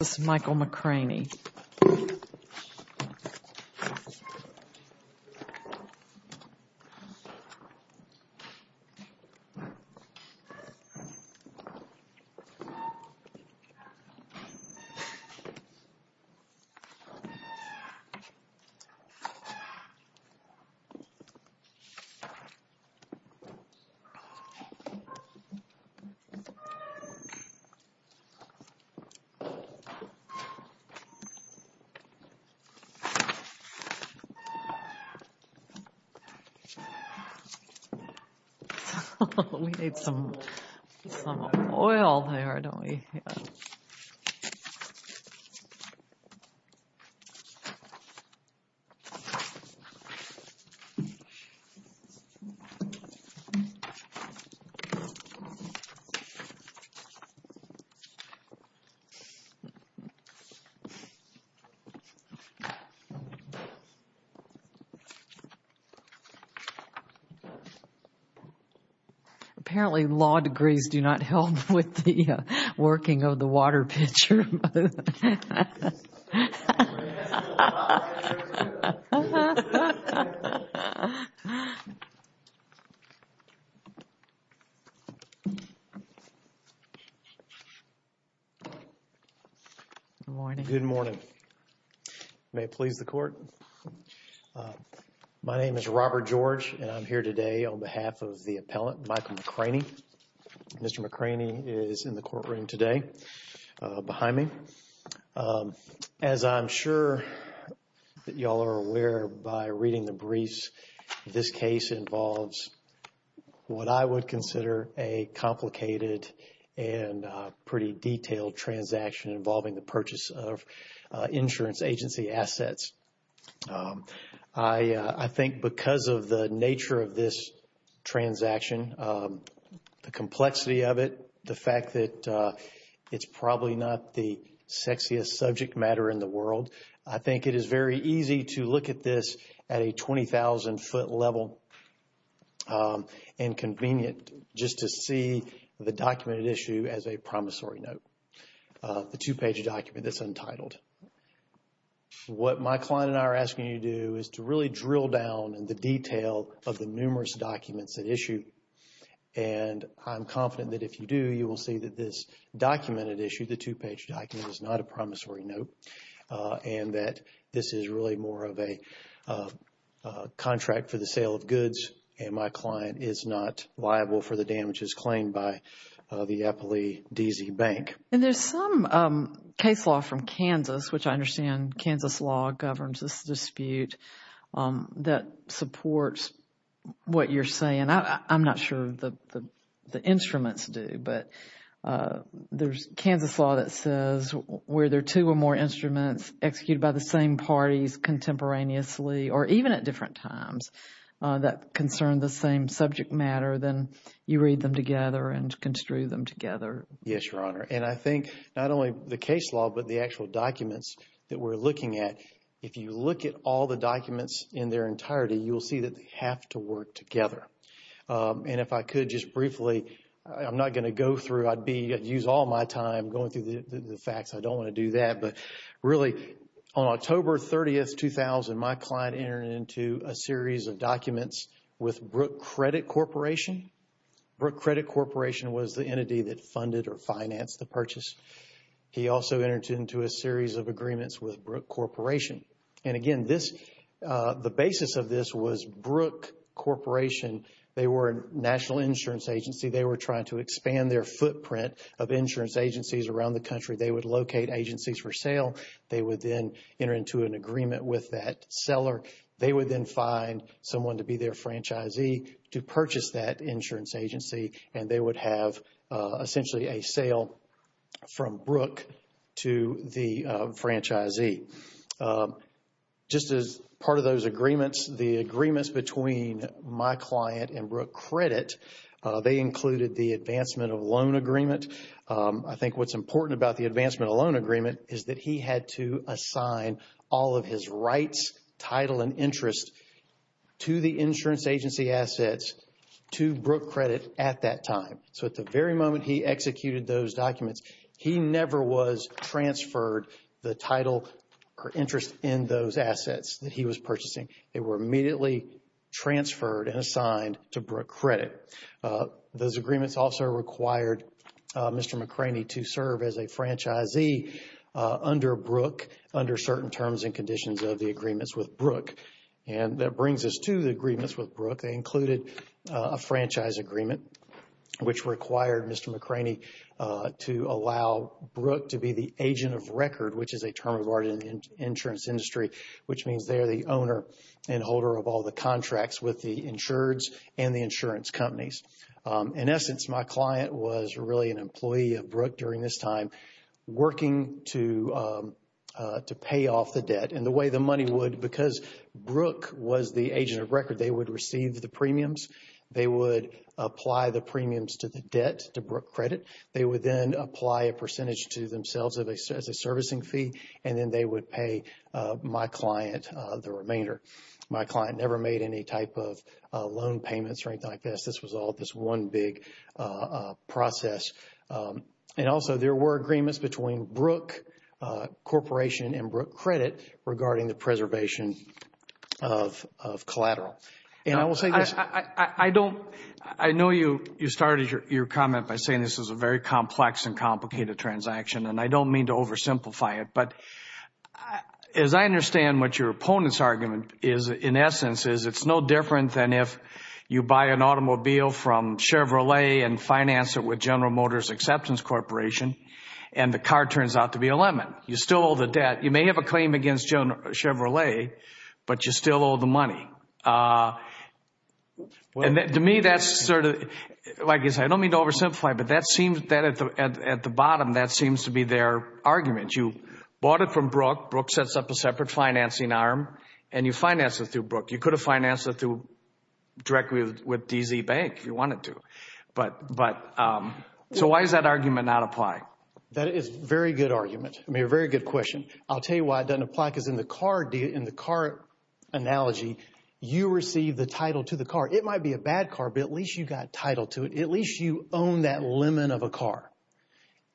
This is Michael McCranie. We need some oil there, don't we? Apparently, law degrees do not help with the working of the water pitcher. Good morning. Good morning. May it please the Court. My name is Robert George and I'm here today on behalf of the appellant, Michael McCranie. Mr. McCranie is in the courtroom today behind me. As I'm sure that y'all are aware by reading the briefs, this case involves what I would consider a complicated and pretty detailed transaction involving the purchase of insurance agency assets. I think because of the nature of this transaction, the complexity of it, the fact that it's probably not the sexiest subject matter in the world, I think it is very easy to look at this at a 20,000-foot level and convenient just to see the documented issue as a promissory note, the two-page document that's untitled. What my client and I are asking you to do is to really drill down in the detail of the numerous documents that issue and I'm confident that if you do, you will see that this documented issue, the two-page document, is not a promissory note and that this is really more of a contract for the sale of goods and my client is not liable for the damages claimed by the Eppley DZ Bank. And there's some case law from Kansas, which I understand Kansas law governs this dispute, that supports what you're saying. I'm not sure the instruments do, but there's Kansas law that says where there are two or more instruments executed by the same parties contemporaneously or even at different times that concern the same subject matter, then you read them together and construe them together. Yes, Your Honor. And I think not only the case law, but the actual documents that we're looking at, if you look at all the documents in their entirety, you'll see that they have to work together. And if I could just briefly, I'm not going to go through, I'd be, I'd use all my time going through the facts. I don't want to do that, but really on October 30th, 2000, my client entered into a series of documents with Brooke Credit Corporation. Brooke Credit Corporation was the or financed the purchase. He also entered into a series of agreements with Brooke Corporation. And again, this, the basis of this was Brooke Corporation. They were a national insurance agency. They were trying to expand their footprint of insurance agencies around the country. They would locate agencies for sale. They would then enter into an agreement with that seller. They would then find someone to be their franchisee to purchase that insurance agency. And they would have essentially a sale from Brooke to the franchisee. Just as part of those agreements, the agreements between my client and Brooke Credit, they included the Advancement of Loan Agreement. I think what's important about the Advancement of Loan Agreement is that he had to assign all of his rights, title, and interest to the insurance agency assets to Brooke Credit at that time. So at the very moment he executed those documents, he never was transferred the title or interest in those assets that he was purchasing. They were immediately transferred and assigned to Brooke Credit. Those agreements also required Mr. McCraney to serve as a franchisee under Brooke, under certain terms and conditions of the agreements with Brooke. And that brings us to the agreements with Brooke. They included a franchise agreement which required Mr. McCraney to allow Brooke to be the agent of record, which is a term of art in the insurance industry, which means they're the owner and holder of all the contracts with the insureds and the insurance companies. In essence, my client was really an employee of Brooke during this time working to pay off the debt. And the way the money would, because Brooke was the agent of record, they would receive the premiums. They would apply the premiums to the debt to Brooke Credit. They would then apply a percentage to themselves as a servicing fee. And then they would pay my client the remainder. My client never made any type of loan payments or anything like this. This was all this one big process. And also, there were agreements between Brooke Corporation and Brooke Credit regarding the preservation of collateral. And I will say this. I know you started your comment by saying this is a very complex and complicated transaction, and I don't mean to oversimplify it. But as I understand what your opponent's argument is, in essence, is it's no different than if you buy an automobile from Chevrolet and finance it with General Motors Acceptance Corporation, and the car turns out to be a lemon. You still owe the debt. You may have a claim against Chevrolet, but you still owe the money. And to me, that's sort of, like I said, I don't mean to oversimplify, but that seems that at the bottom, that seems to be their argument. You bought it from Brooke, Brooke sets up a separate financing arm, and you finance it through Brooke. You could have financed it directly with DZ Bank if you wanted to. But so why does that argument not apply? That is a very good argument. I mean, a very good question. I'll tell you why it doesn't apply, because in the car analogy, you receive the title to the car. It might be a bad car, but at least you got title to it. At least you own that lemon of a car.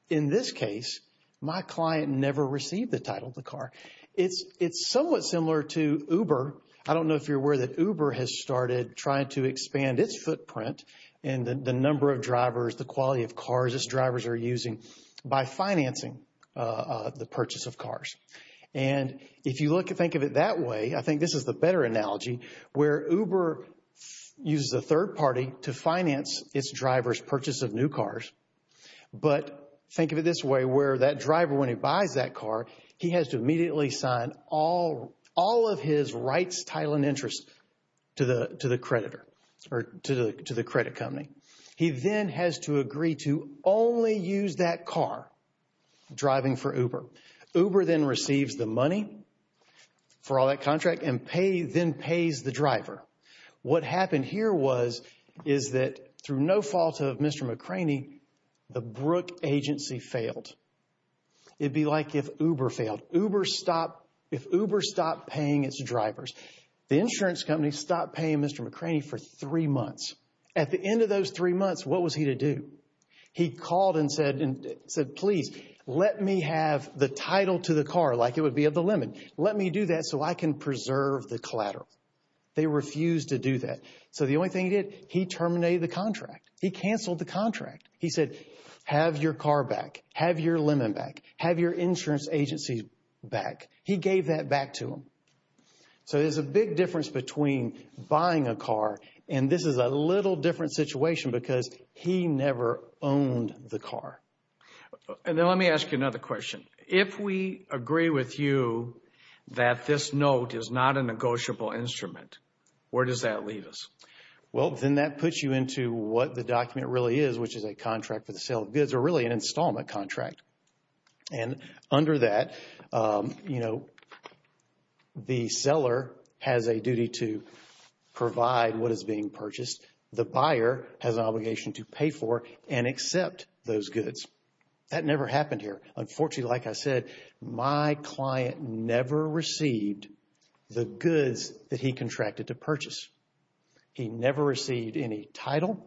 In this case, my client never received the title of the car. It's somewhat similar to Uber. I don't know if you're aware that Uber has started trying to expand its footprint and the number of drivers, the quality of cars its drivers are using by financing the purchase of cars. And if you look and think of it that way, I think this is the better analogy, where Uber uses a third party to finance its driver's purchase of new cars. But think of it this way, where that driver, when he buys that car, he has to immediately sign all of his rights, title, and interest to the creditor or to the credit company. He then has to agree to only use that car driving for Uber. Uber then receives the money for all that contract and then pays the driver. What happened here was, is that through no fault of Mr. McCraney, the Brooke agency failed. It'd be like if Uber failed. Uber stopped, if Uber stopped paying its drivers, the insurance company stopped paying Mr. McCraney for three months. At the end of those three months, what was he to do? He called and said, and said, please, let me have the title to the car like it would be of the lemon. Let me do that so I can preserve the collateral. They refused to do that. The only thing he did, he terminated the contract. He canceled the contract. He said, have your car back. Have your lemon back. Have your insurance agency back. He gave that back to them. There's a big difference between buying a car and this is a little different situation because he never owned the car. Let me ask you another question. If we instrument, where does that lead us? Well, then that puts you into what the document really is, which is a contract for the sale of goods or really an installment contract. Under that, the seller has a duty to provide what is being purchased. The buyer has an obligation to pay for and accept those goods. That never happened here. Unfortunately, like I said, my client never received the goods that he contracted to purchase. He never received any title,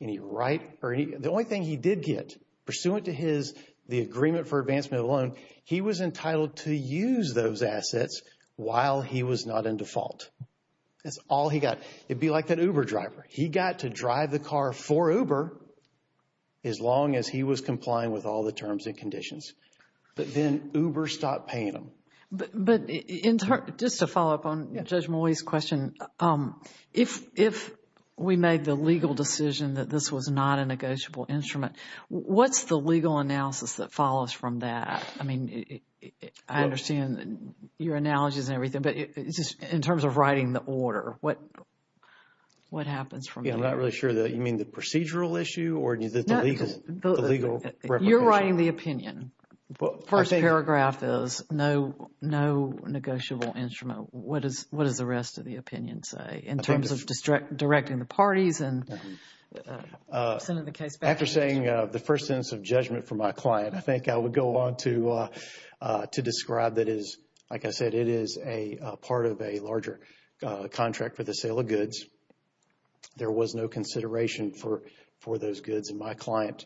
any right, or any, the only thing he did get, pursuant to his, the agreement for advancement of loan, he was entitled to use those assets while he was not in default. That's all he got. It'd be like that Uber driver. He got to drive the car for Uber as long as he was complying with all the terms and terms. Just to follow up on Judge Mowey's question, if we made the legal decision that this was not a negotiable instrument, what's the legal analysis that follows from that? I mean, I understand your analogies and everything, but just in terms of writing the order, what happens from there? Yeah, I'm not really sure. You mean the procedural issue or the legal? You're writing the opinion. First paragraph is no, no negotiable instrument. What is, what does the rest of the opinion say in terms of directing the parties and sending the case back? After saying the first sentence of judgment for my client, I think I would go on to, to describe that as, like I said, it is a part of a larger contract for the sale of goods. There was no consideration for, for those goods. And my client,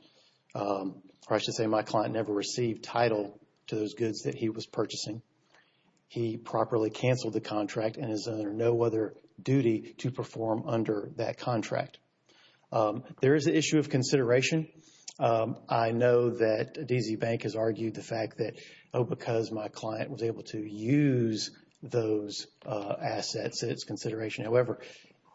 or I should say my client never received title to those goods that he was purchasing. He properly canceled the contract and is under no other duty to perform under that contract. There is an issue of consideration. I know that DZ Bank has argued the fact that, oh, because my client was able to use those assets, it's consideration. However,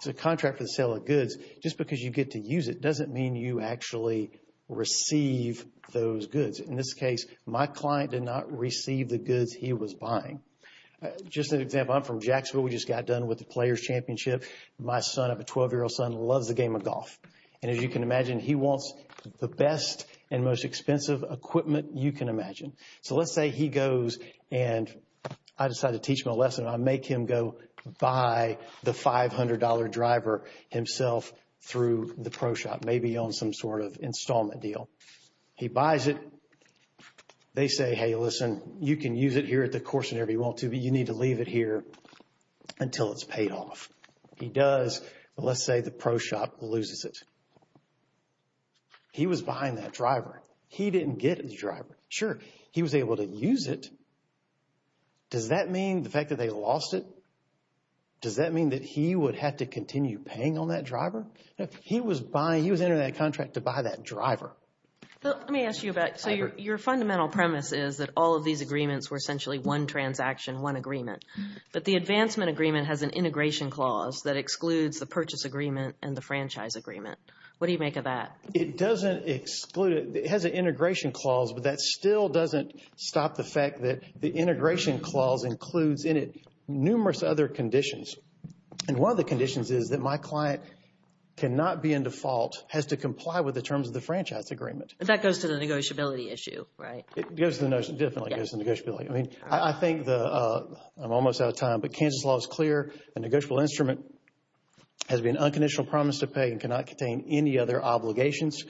the contract for the sale of goods, just because you get to use it, doesn't mean you actually receive those goods. In this case, my client did not receive the goods he was buying. Just an example, I'm from Jacksonville. We just got done with the players championship. My son, I have a 12 year old son, loves the game of golf. And as you can imagine, he wants the best and most expensive equipment you can imagine. So let's say he goes and I himself through the pro shop, maybe on some sort of installment deal. He buys it. They say, hey, listen, you can use it here at the course whenever you want to, but you need to leave it here until it's paid off. He does, but let's say the pro shop loses it. He was buying that driver. He didn't get the driver. Sure. He was able to use it. Does that mean the fact that they lost it? Does that mean that he would have to continue paying on that driver? He was buying, he was entering that contract to buy that driver. Let me ask you about, so your fundamental premise is that all of these agreements were essentially one transaction, one agreement, but the advancement agreement has an integration clause that excludes the purchase agreement and the franchise agreement. What do you make of that? It doesn't exclude it. It has an integration clause, but that still doesn't stop the fact that the integration clause includes in it numerous other conditions and one of the conditions is that my client cannot be in default, has to comply with the terms of the franchise agreement. That goes to the negotiability issue, right? It goes to the notion, definitely goes to negotiability. I mean, I think the, I'm almost out of time, but Kansas law is clear. A negotiable instrument has been unconditional promise to pay and cannot contain any other obligations.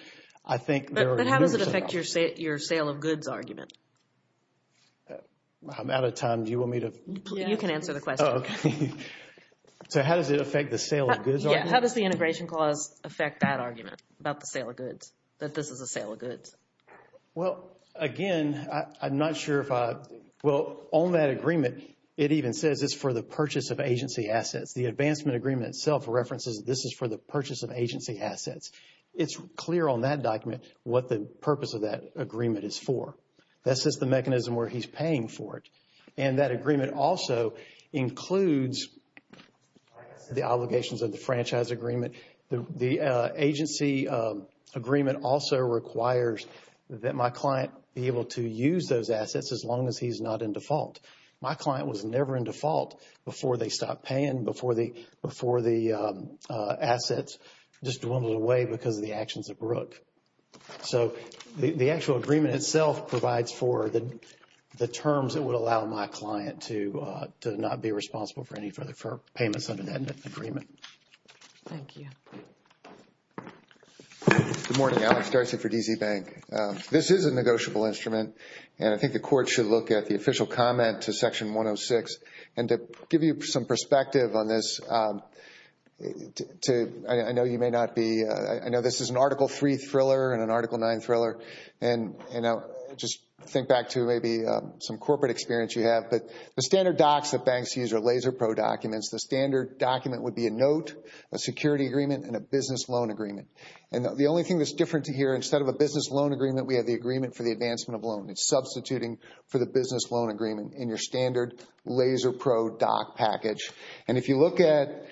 I think there are numerous of them. But how does it affect your sale of goods argument? I'm out of time. Do you want me to? You can answer the question. So how does it affect the sale of goods argument? How does the integration clause affect that argument about the sale of goods, that this is a sale of goods? Well, again, I'm not sure if I, well, on that agreement, it even says it's for the purchase of agency assets. The advancement agreement itself references this is for the purchase of agency assets. It's clear on that document what the purpose of that agreement is for. That's just the mechanism where he's paying for it. And that agreement also includes the obligations of the franchise agreement. The agency agreement also requires that my client be able to use those assets as long as he's not in default. My client was never in default before they stopped paying, before the assets just dwindled away because of the actions of Brooke. So the actual agreement itself provides for the terms that would allow my client to not be responsible for any further payments under that agreement. Thank you. Good morning, Alex D'Arcy for DZ Bank. This is a negotiable instrument, and I think the court should look at the official comment to section 106. And to give you some perspective on this, I know you may not be, I know this is an article three thriller and an article nine thriller, and just think back to maybe some corporate experience you have. But the standard docs that banks use are LaserPro documents. The standard document would be a note, a security agreement, and a business loan agreement. And the only thing that's different here, instead of a business loan agreement, we have the agreement for the advancement of loan. It's substituting for the business loan agreement in your standard LaserPro doc package. And if you look at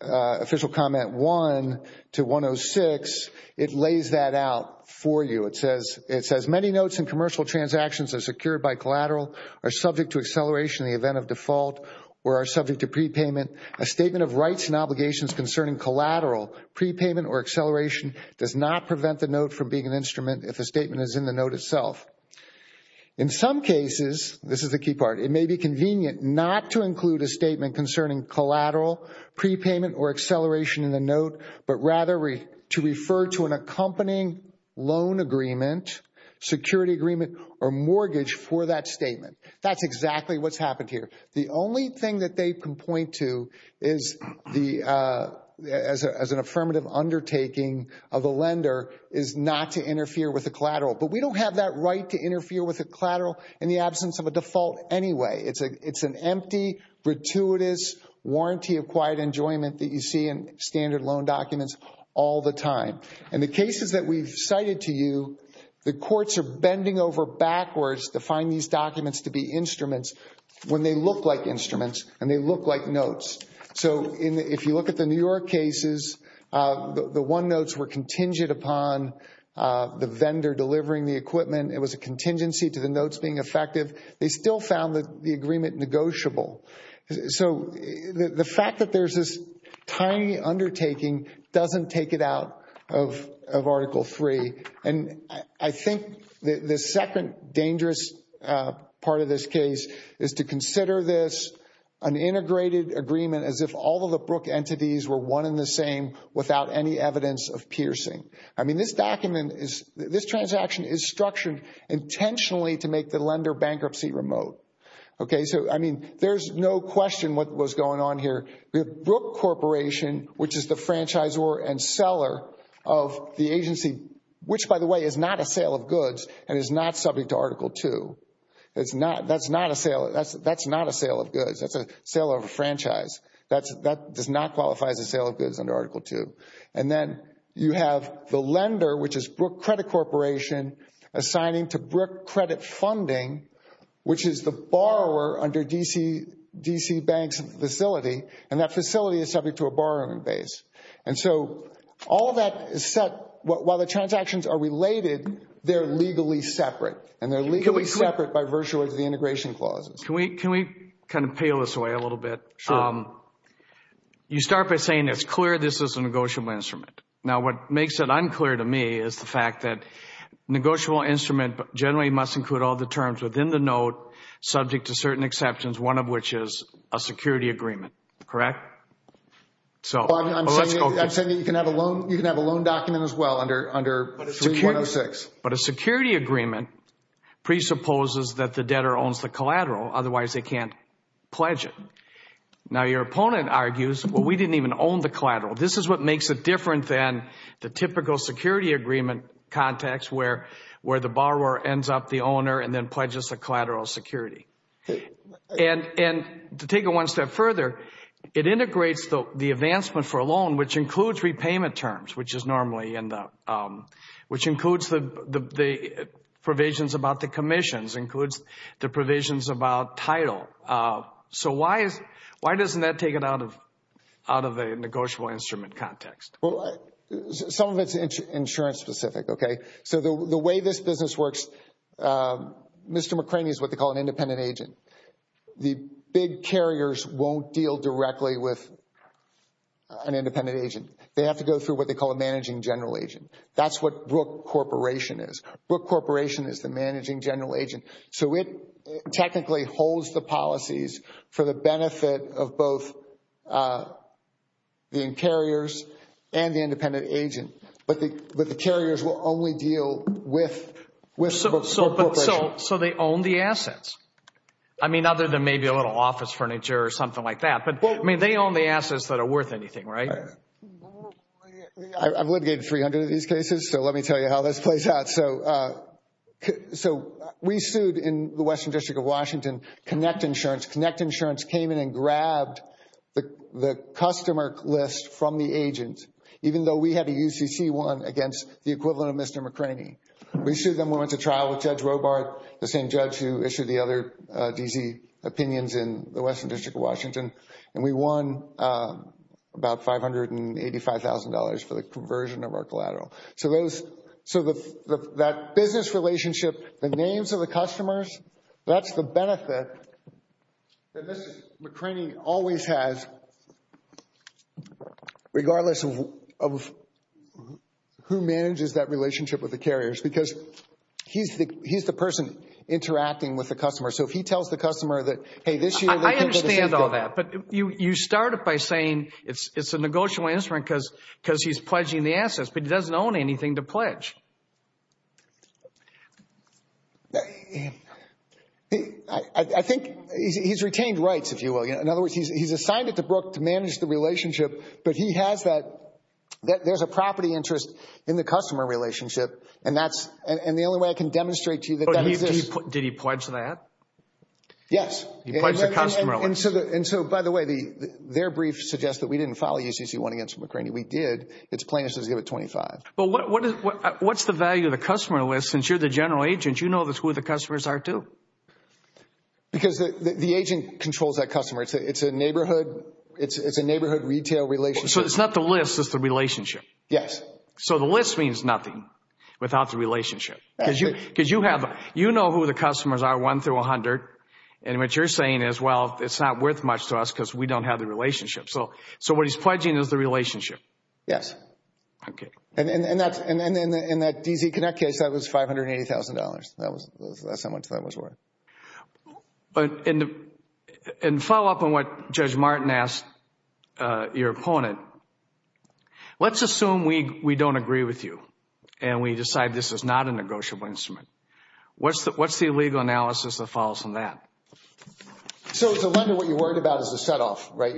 official comment one to 106, it lays that out for you. It says many notes and commercial transactions are secured by collateral, are subject to acceleration in the event of default, or are subject to prepayment. A statement of rights and obligations concerning collateral prepayment or acceleration does not prevent the note from being an instrument if the statement is in the note itself. In some cases, this is the key part, it may be convenient not to include a collateral prepayment or acceleration in the note, but rather to refer to an accompanying loan agreement, security agreement, or mortgage for that statement. That's exactly what's happened here. The only thing that they can point to as an affirmative undertaking of a lender is not to interfere with a collateral. But we don't have that right to interfere with a collateral in the warranty of quiet enjoyment that you see in standard loan documents all the time. And the cases that we've cited to you, the courts are bending over backwards to find these documents to be instruments when they look like instruments and they look like notes. So if you look at the New York cases, the one notes were contingent upon the vendor delivering the equipment. It was a contingency to the notes being effective. They still found the agreement negotiable. So the fact that there's this tiny undertaking doesn't take it out of Article 3. And I think the second dangerous part of this case is to consider this an integrated agreement as if all of the Brook entities were one and the same without any evidence of piercing. I mean, this document is, this transaction is structured intentionally to make the lender bankruptcy remote. So I mean, there's no question what was going on here. We have Brook Corporation, which is the franchisor and seller of the agency, which by the way, is not a sale of goods and is not subject to Article 2. That's not a sale of goods. That's a sale of a franchise. That does not qualify as a sale of goods under Article 2. And then you have the lender, which is Brook Credit Funding, which is the borrower under DC Bank's facility. And that facility is subject to a borrowing base. And so all of that is set, while the transactions are related, they're legally separate. And they're legally separate by virtue of the integration clauses. Can we kind of peel this away a little bit? Sure. You start by saying it's clear this is a negotiable instrument. Now, what makes it the collateral? Now, your opponent argues, well, we didn't even own the collateral. This is what then pledges the collateral security. And to take it one step further, it integrates the advancement for a loan, which includes repayment terms, which includes the provisions about the commissions, includes the provisions about title. So why doesn't that take it out of the negotiable instrument context? Well, some of it's insurance specific, okay? So the way this business works, Mr. McCraney is what they call an independent agent. The big carriers won't deal directly with an independent agent. They have to go through what they call a managing general agent. That's what Brook Corporation is. Brook Corporation is the managing general agent. So it technically holds the policies for the benefit of both the carriers and the independent agent, but the carriers will only deal with Brook Corporation. So they own the assets? I mean, other than maybe a little office furniture or something like that, but I mean, they own the assets that are worth anything, right? I've litigated 300 of these cases, so let me tell you how this plays out. So we sued in the Western District of Washington Connect Insurance. Connect Insurance came in and grabbed the customer list from the agent, even though we had a UCC one against the equivalent of Mr. McCraney. We sued them. We went to trial with Judge Robart, the same judge who issued the other DZ opinions in the Western District of Washington, and we won about $585,000 for the conversion of our collateral. So that business relationship, the names of the customers, that's the benefit that Mr. McCraney always has, regardless of who manages that relationship with the carriers, because he's the person interacting with the customer. So if he tells the customer that, hey, this year... I understand all that, but you start it by saying it's a negotiable instrument because he's pledging the assets, but he doesn't own anything to pledge. I think he's retained rights, if you will. In other words, he's assigned it to Brooke to manage the relationship, but he has that... There's a property interest in the customer relationship, and that's... And the only way I can demonstrate to you that that exists... Did he pledge that? Yes. He pledged the customer list. And so, by the way, their brief suggests that we didn't file a UCC one against McCraney. We did. It's plain as day to give it $25,000. But what's the value of the customer list since you're the general agent? You know who the customers are, too. Because the agent controls that customer. It's a neighborhood retail relationship. So it's not the list, it's the relationship. Yes. So the list means nothing without the relationship. You know who the customers are, one through 100, and what you're saying is, well, it's not worth much to us because we don't have the relationship. So what he's pledging is the relationship. Yes. Okay. And in that DZ Connect case, that was $580,000. That's how much that was worth. In follow-up on what Judge Martin asked your opponent, let's assume we don't agree with you and we decide this is not a negotiable instrument. What's the legal analysis that follows from that? So as a lender, what you're worried about is the set-off, right?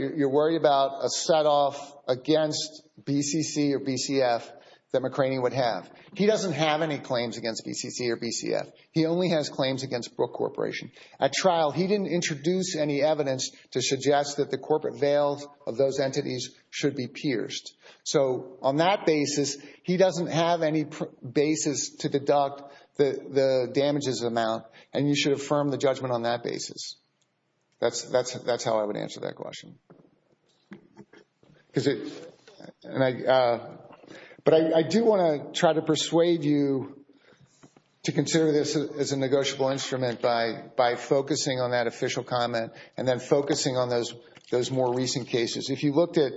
That McRaney would have. He doesn't have any claims against BCC or BCF. He only has claims against Brooke Corporation. At trial, he didn't introduce any evidence to suggest that the corporate veils of those entities should be pierced. So on that basis, he doesn't have any basis to deduct the damages amount, and you should affirm the judgment on that basis. That's how I would answer that question. But I do want to try to persuade you to consider this as a negotiable instrument by focusing on that official comment and then focusing on those more recent cases. If you looked at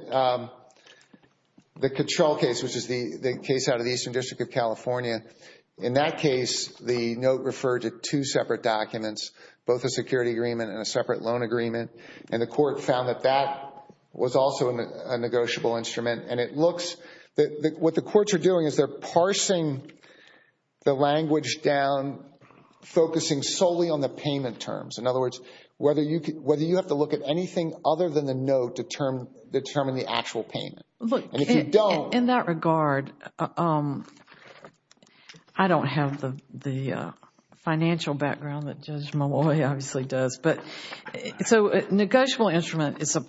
the Cattrall case, which is the case out of the Eastern District of California, in that case, the note referred to two separate documents, both a security agreement and a separate loan agreement, and the court found that that was also a negotiable instrument. And it looks that what the courts are doing is they're parsing the language down, focusing solely on the payment terms. In other words, whether you have to look at anything other than the note to determine the actual payment. Look, in that regard, I don't have the financial background that Judge Malloy obviously does, but it's a negotiable instrument. It's an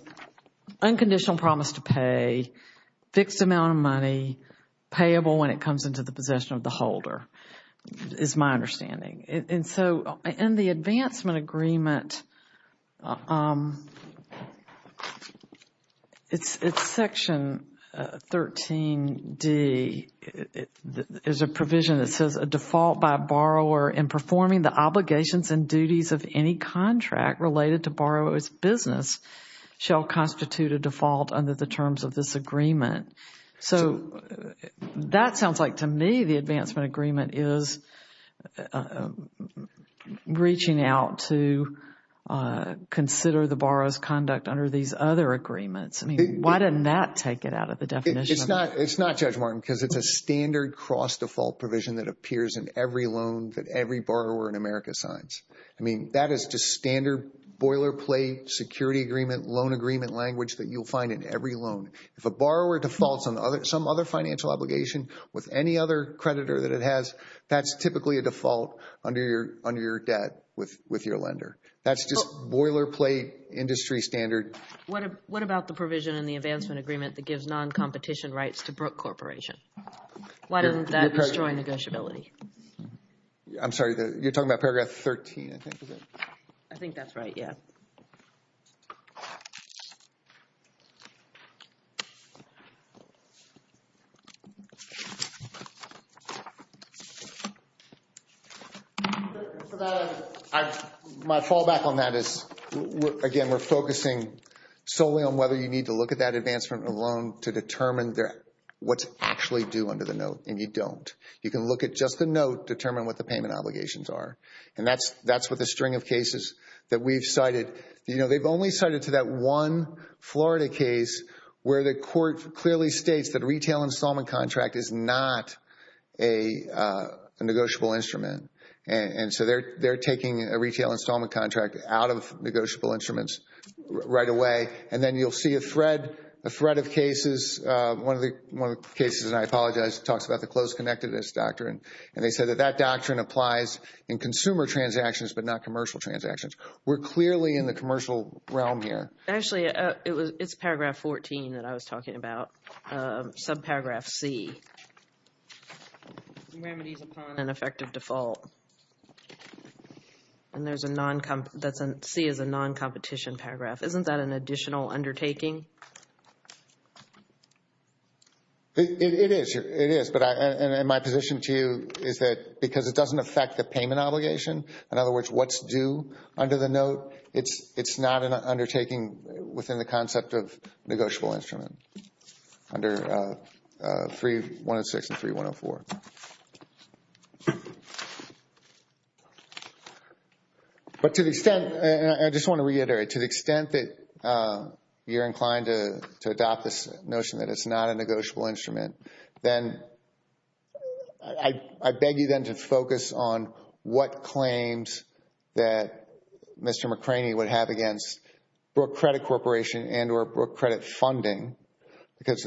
unconditional promise to pay, fixed amount of money, payable when it comes into the possession of the holder, is my understanding. And so in the advancement agreement, it's section 13D. There's a provision that says a default by a borrower in performing the obligations and duties of any contract related to borrower's business shall constitute a default under the terms of this agreement. So that sounds like to me the advancement agreement is reaching out to consider the borrower's conduct under these other agreements. I mean, why didn't that take it out of the definition? It's not, Judge Martin, because it's a standard cross-default provision that appears in every loan that every borrower in America signs. I mean, that is just standard boilerplate security agreement, loan agreement language that you'll find in every loan. If a borrower defaults on some other financial obligation with any other creditor that it has, that's typically a default under your debt with your lender. That's just boilerplate industry standard. What about the provision in the advancement agreement that gives non-competition rights to Brooke Corporation? Why doesn't that destroy negotiability? I'm sorry, you're talking about paragraph 13, I think, is it? I think that's right, yeah. My fallback on that is, again, we're focusing solely on whether you need to look at that and you don't. You can look at just the note, determine what the payment obligations are. And that's what the string of cases that we've cited, you know, they've only cited to that one Florida case where the court clearly states that a retail installment contract is not a negotiable instrument. And so they're taking a retail installment contract out of negotiable instruments right away. And then you'll see a thread of cases. One of the cases, and I apologize, talks about the close connectedness doctrine. And they said that that doctrine applies in consumer transactions, but not commercial transactions. We're clearly in the commercial realm here. Actually, it's paragraph 14 that I was talking about, subparagraph C. Remedies upon an effective default. And there's a non-competition, C is a non-competition paragraph. Isn't that an additional undertaking? It is, it is. But my position to you is that because it doesn't affect the payment obligation, in other words, what's due under the note, it's not an undertaking within the concept of negotiable instrument under 306 and 3104. But to the extent, and I just want to reiterate, to the extent that you're inclined to adopt this notion that it's not a negotiable instrument, then I beg you then to focus on what claims that Mr. McCraney would have against Brooke Credit Corporation and or Brooke Credit Funding, because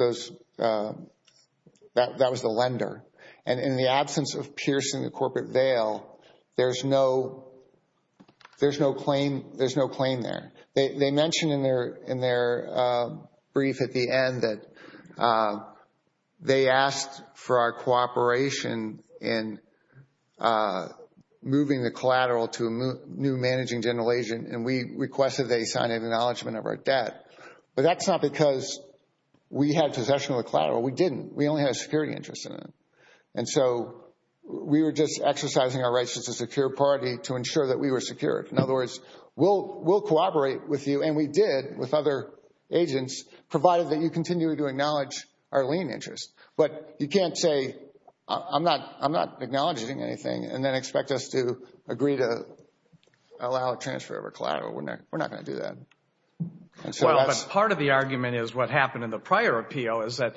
that was the lender. And in the absence of piercing the corporate veil, there's no claim there. They mentioned in their brief at the end that they asked for our cooperation in moving the collateral to a new managing general agent, and we requested they sign an acknowledgement of our debt. But that's not because we had possession of the collateral. We didn't. We only had a security interest in it. And so we were just exercising our rights as a secure party to ensure that we were secured. In other words, we'll cooperate with you, and we did with other agents, provided that you continue to acknowledge our lien interest. But you can't say, I'm not acknowledging anything, and then expect us to agree to allow a transfer of our collateral. We're not going to do that. Well, but part of the argument is what happened in the prior appeal is that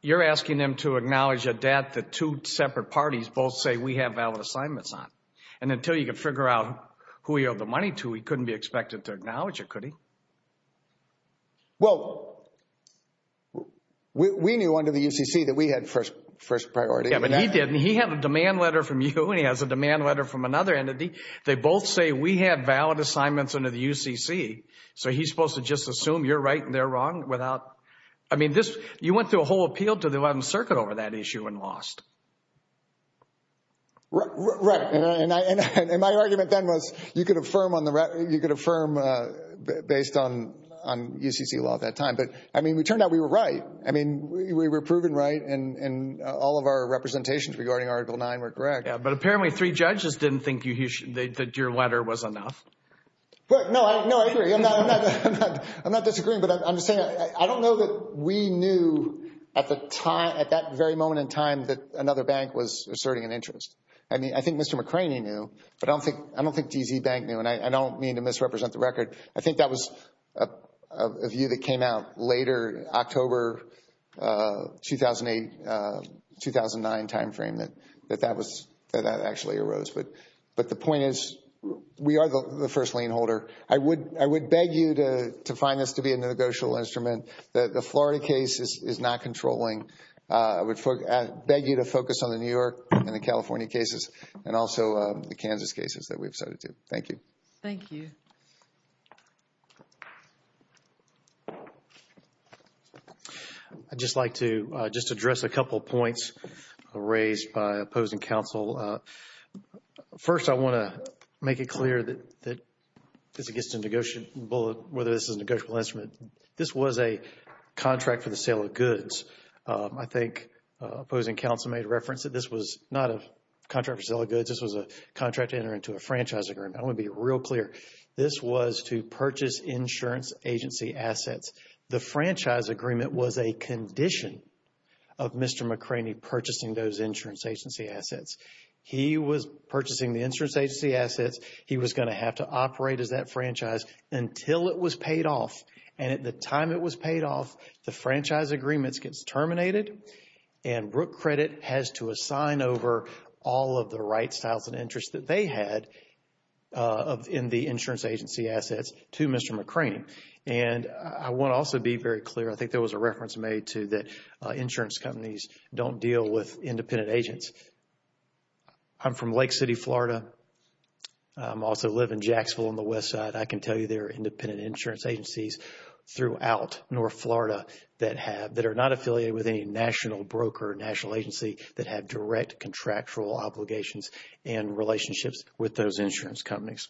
you're asking them to acknowledge a debt that two separate parties both say we have valid assignments on. And until you can figure out who he owed the money to, he couldn't be expected to acknowledge it, could he? Well, we knew under the UCC that we had first priority. Yeah, but he didn't. He had a demand letter from you, and he has a demand letter from another entity. They both say we have valid assignments under the UCC. So he's supposed to just assume you're right and they're wrong without... I mean, you went through a whole appeal to the 11th Circuit over that issue and lost. Right. And my argument then was you could affirm on the record, you could affirm based on UCC law at that time. But, I mean, it turned out we were right. I mean, we were proven right, and all of our representations regarding Article 9 were correct. Yeah, but apparently three judges didn't think your letter was enough. No, I agree. I'm not disagreeing, but I'm just saying I don't know that we knew at that very moment in time that another bank was asserting an interest. I mean, I think Mr. McCraney knew, but I don't think D.C. Bank knew, and I don't mean to misrepresent the record. I think that was a view that came out later, October 2008-2009 time frame that that actually arose. But the point is we are the first lien holder. I would beg you to find this to be a negotiable instrument. The Florida case is not controlling. I would beg you to focus on the New York and the California cases and also the Kansas cases that we've cited too. Thank you. Thank you. I'd just like to just address a couple of points raised by opposing counsel. First, I want to make it clear that this is a negotiable, whether this is a negotiable instrument. This was a contract for the sale of goods. I think opposing counsel made reference that this was not a contract for sale of goods. This was a contract to enter into a franchise agreement. I want to be real clear. This was to purchase insurance agency assets. The franchise agreement was a condition of Mr. McCraney purchasing those insurance agency assets. He was purchasing the insurance agency assets. He was going to have to operate as that franchise until it was paid off. And at the time it was paid off, the franchise agreements gets terminated and Brooke Credit has to assign over all of the rights, styles and interests that they had in the insurance agency assets to Mr. McCraney. And I want to also be very clear. I think there was a reference made to that insurance companies don't deal with independent agents. I'm from Lake City, Florida. I also live in Jacksville on the west side. I can tell you there are independent insurance agencies throughout North Florida that are not affiliated with any national broker, national agency that have direct contractual obligations and relationships with those insurance companies.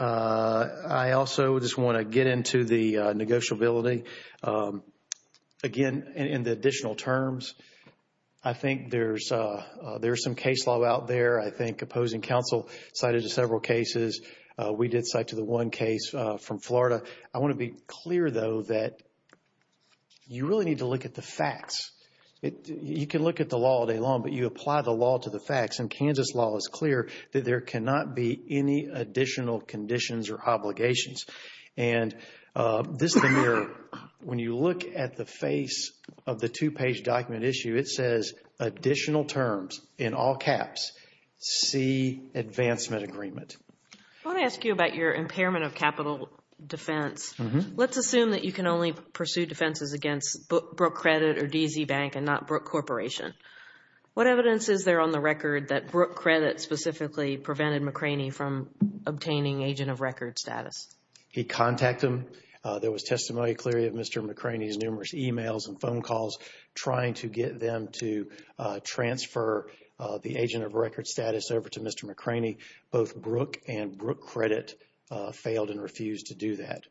I also just want to get into the negotiability. Again, in the additional terms, I think there's some case law out there. I think opposing counsel cited to several cases. We did cite to the one case from Florida. I want to be clear, though, that you really need to look at the facts. You can look at the law all day long, but you apply the law to the facts. And Kansas law is clear that there cannot be any additional conditions or obligations. And this is the mirror. When you look at the face of the two-page document issue, it says additional terms in all caps, C, Advancement Agreement. I want to ask you about your impairment of capital defense. Let's assume that you can only pursue defenses against Brooke Credit or DZ Bank and not Brooke Corporation. What evidence is there on the record that Brooke Credit specifically prevented McRaney from obtaining agent of record status? He contacted them. There was testimony clearly of Mr. McRaney's numerous emails and phone calls trying to get them to transfer the agent of record status over to Mr. McRaney. Both Brooke and Brooke Credit failed and refused to do that.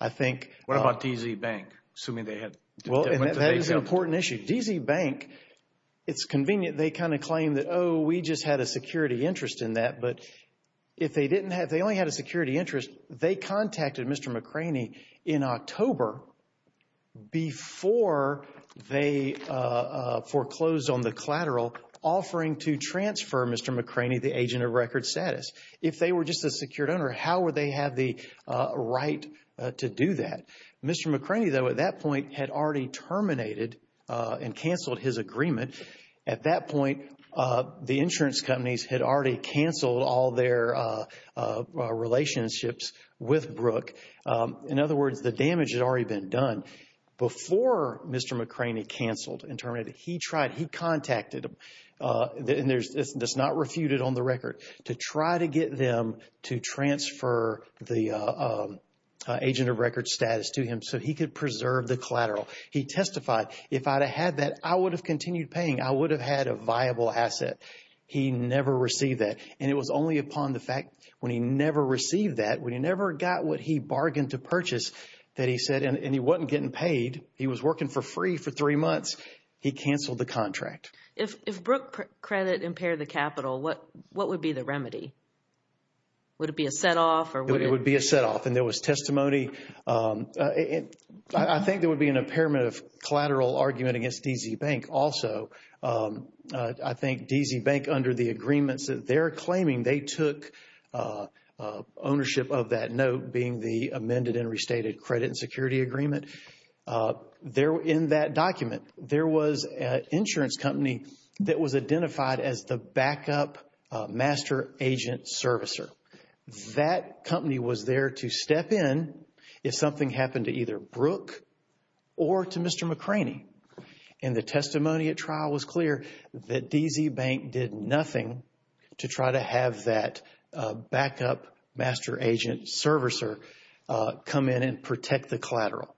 I think... What about DZ Bank, assuming they had... Well, that is an important issue. DZ Bank, it's convenient. They kind of claim that, oh, we just had a security interest in that. But if they didn't have, they only had a security interest, they contacted Mr. McRaney in October before they foreclosed on the collateral offering to transfer Mr. McRaney the agent of record status. If they were just a secured owner, how would they have the right to do that? Mr. McRaney, though, at that point had already terminated and canceled his agreement. At that point, the insurance companies had already canceled all their relationships with Brooke. In other words, the damage had already been done. Before Mr. McRaney canceled and terminated, he tried, he contacted them, and it's not refuted on the record, to try to get them to transfer the agent of record status to him so he could preserve the collateral. He testified, if I'd have had that, I would have continued paying. I would have had a viable asset. He never received that. And it was only upon the fact when he never received that, when he never got what he bargained to purchase, that he said, and he wasn't getting paid. He was working for free for three months. He canceled the contract. If Brooke Credit impaired the capital, what would be the remedy? Would it be a set off or would it... It would be a set off. And there was testimony. I think there would be an impairment of collateral argument against DZ Bank also. I think DZ Bank, under the agreements that they're claiming, they took ownership of that note, being the amended and restated credit and security agreement. In that document, there was an insurance company that was identified as the backup master agent servicer. That company was there to step in if something happened to either Brooke or to Mr. McCraney. And the testimony at trial was clear that DZ Bank did nothing to try to have that backup master agent servicer come in and protect the collateral.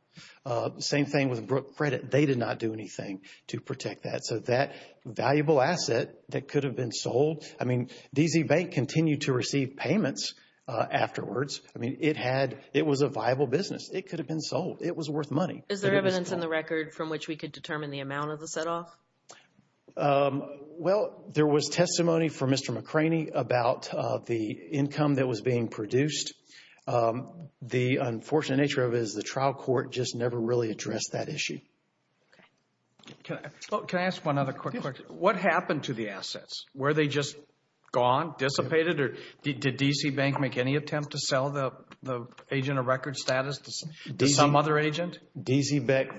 Same thing with Brooke Credit. They did not do anything to protect that. So that valuable asset that could have been sold, I mean, DZ Bank continued to receive payments afterwards. I mean, it was a viable business. It could have been sold. It was worth money. Is there evidence in the record from which we could determine the amount of the set off? Well, there was testimony from Mr. McCraney about the income that was being produced. The unfortunate nature of it is the trial court just never really addressed that issue. Can I ask one other quick question? What happened to the assets? Were they just gone, dissipated, or did DZ Bank make any attempt to sell the agent a record status to some other agent? DZ Bank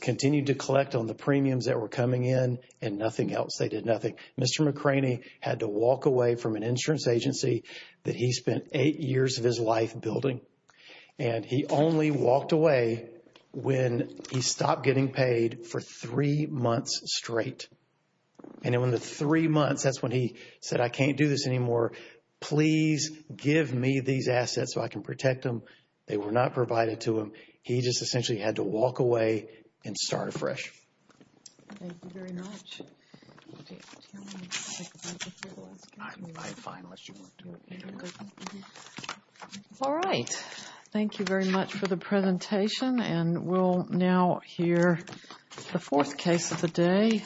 continued to collect on the premiums that were coming in and nothing else. They did nothing. Mr. McCraney had to walk away from an insurance agency that he spent eight years of his life building. And he only walked away when he stopped getting paid for three months straight. And in the three months, that's when he said, I can't do this anymore. Please give me these assets so I can protect them. They were not provided to him. He just essentially had to walk away and start afresh. Thank you very much. All right. Thank you very much for the presentation. And we'll now hear the fourth case of the day.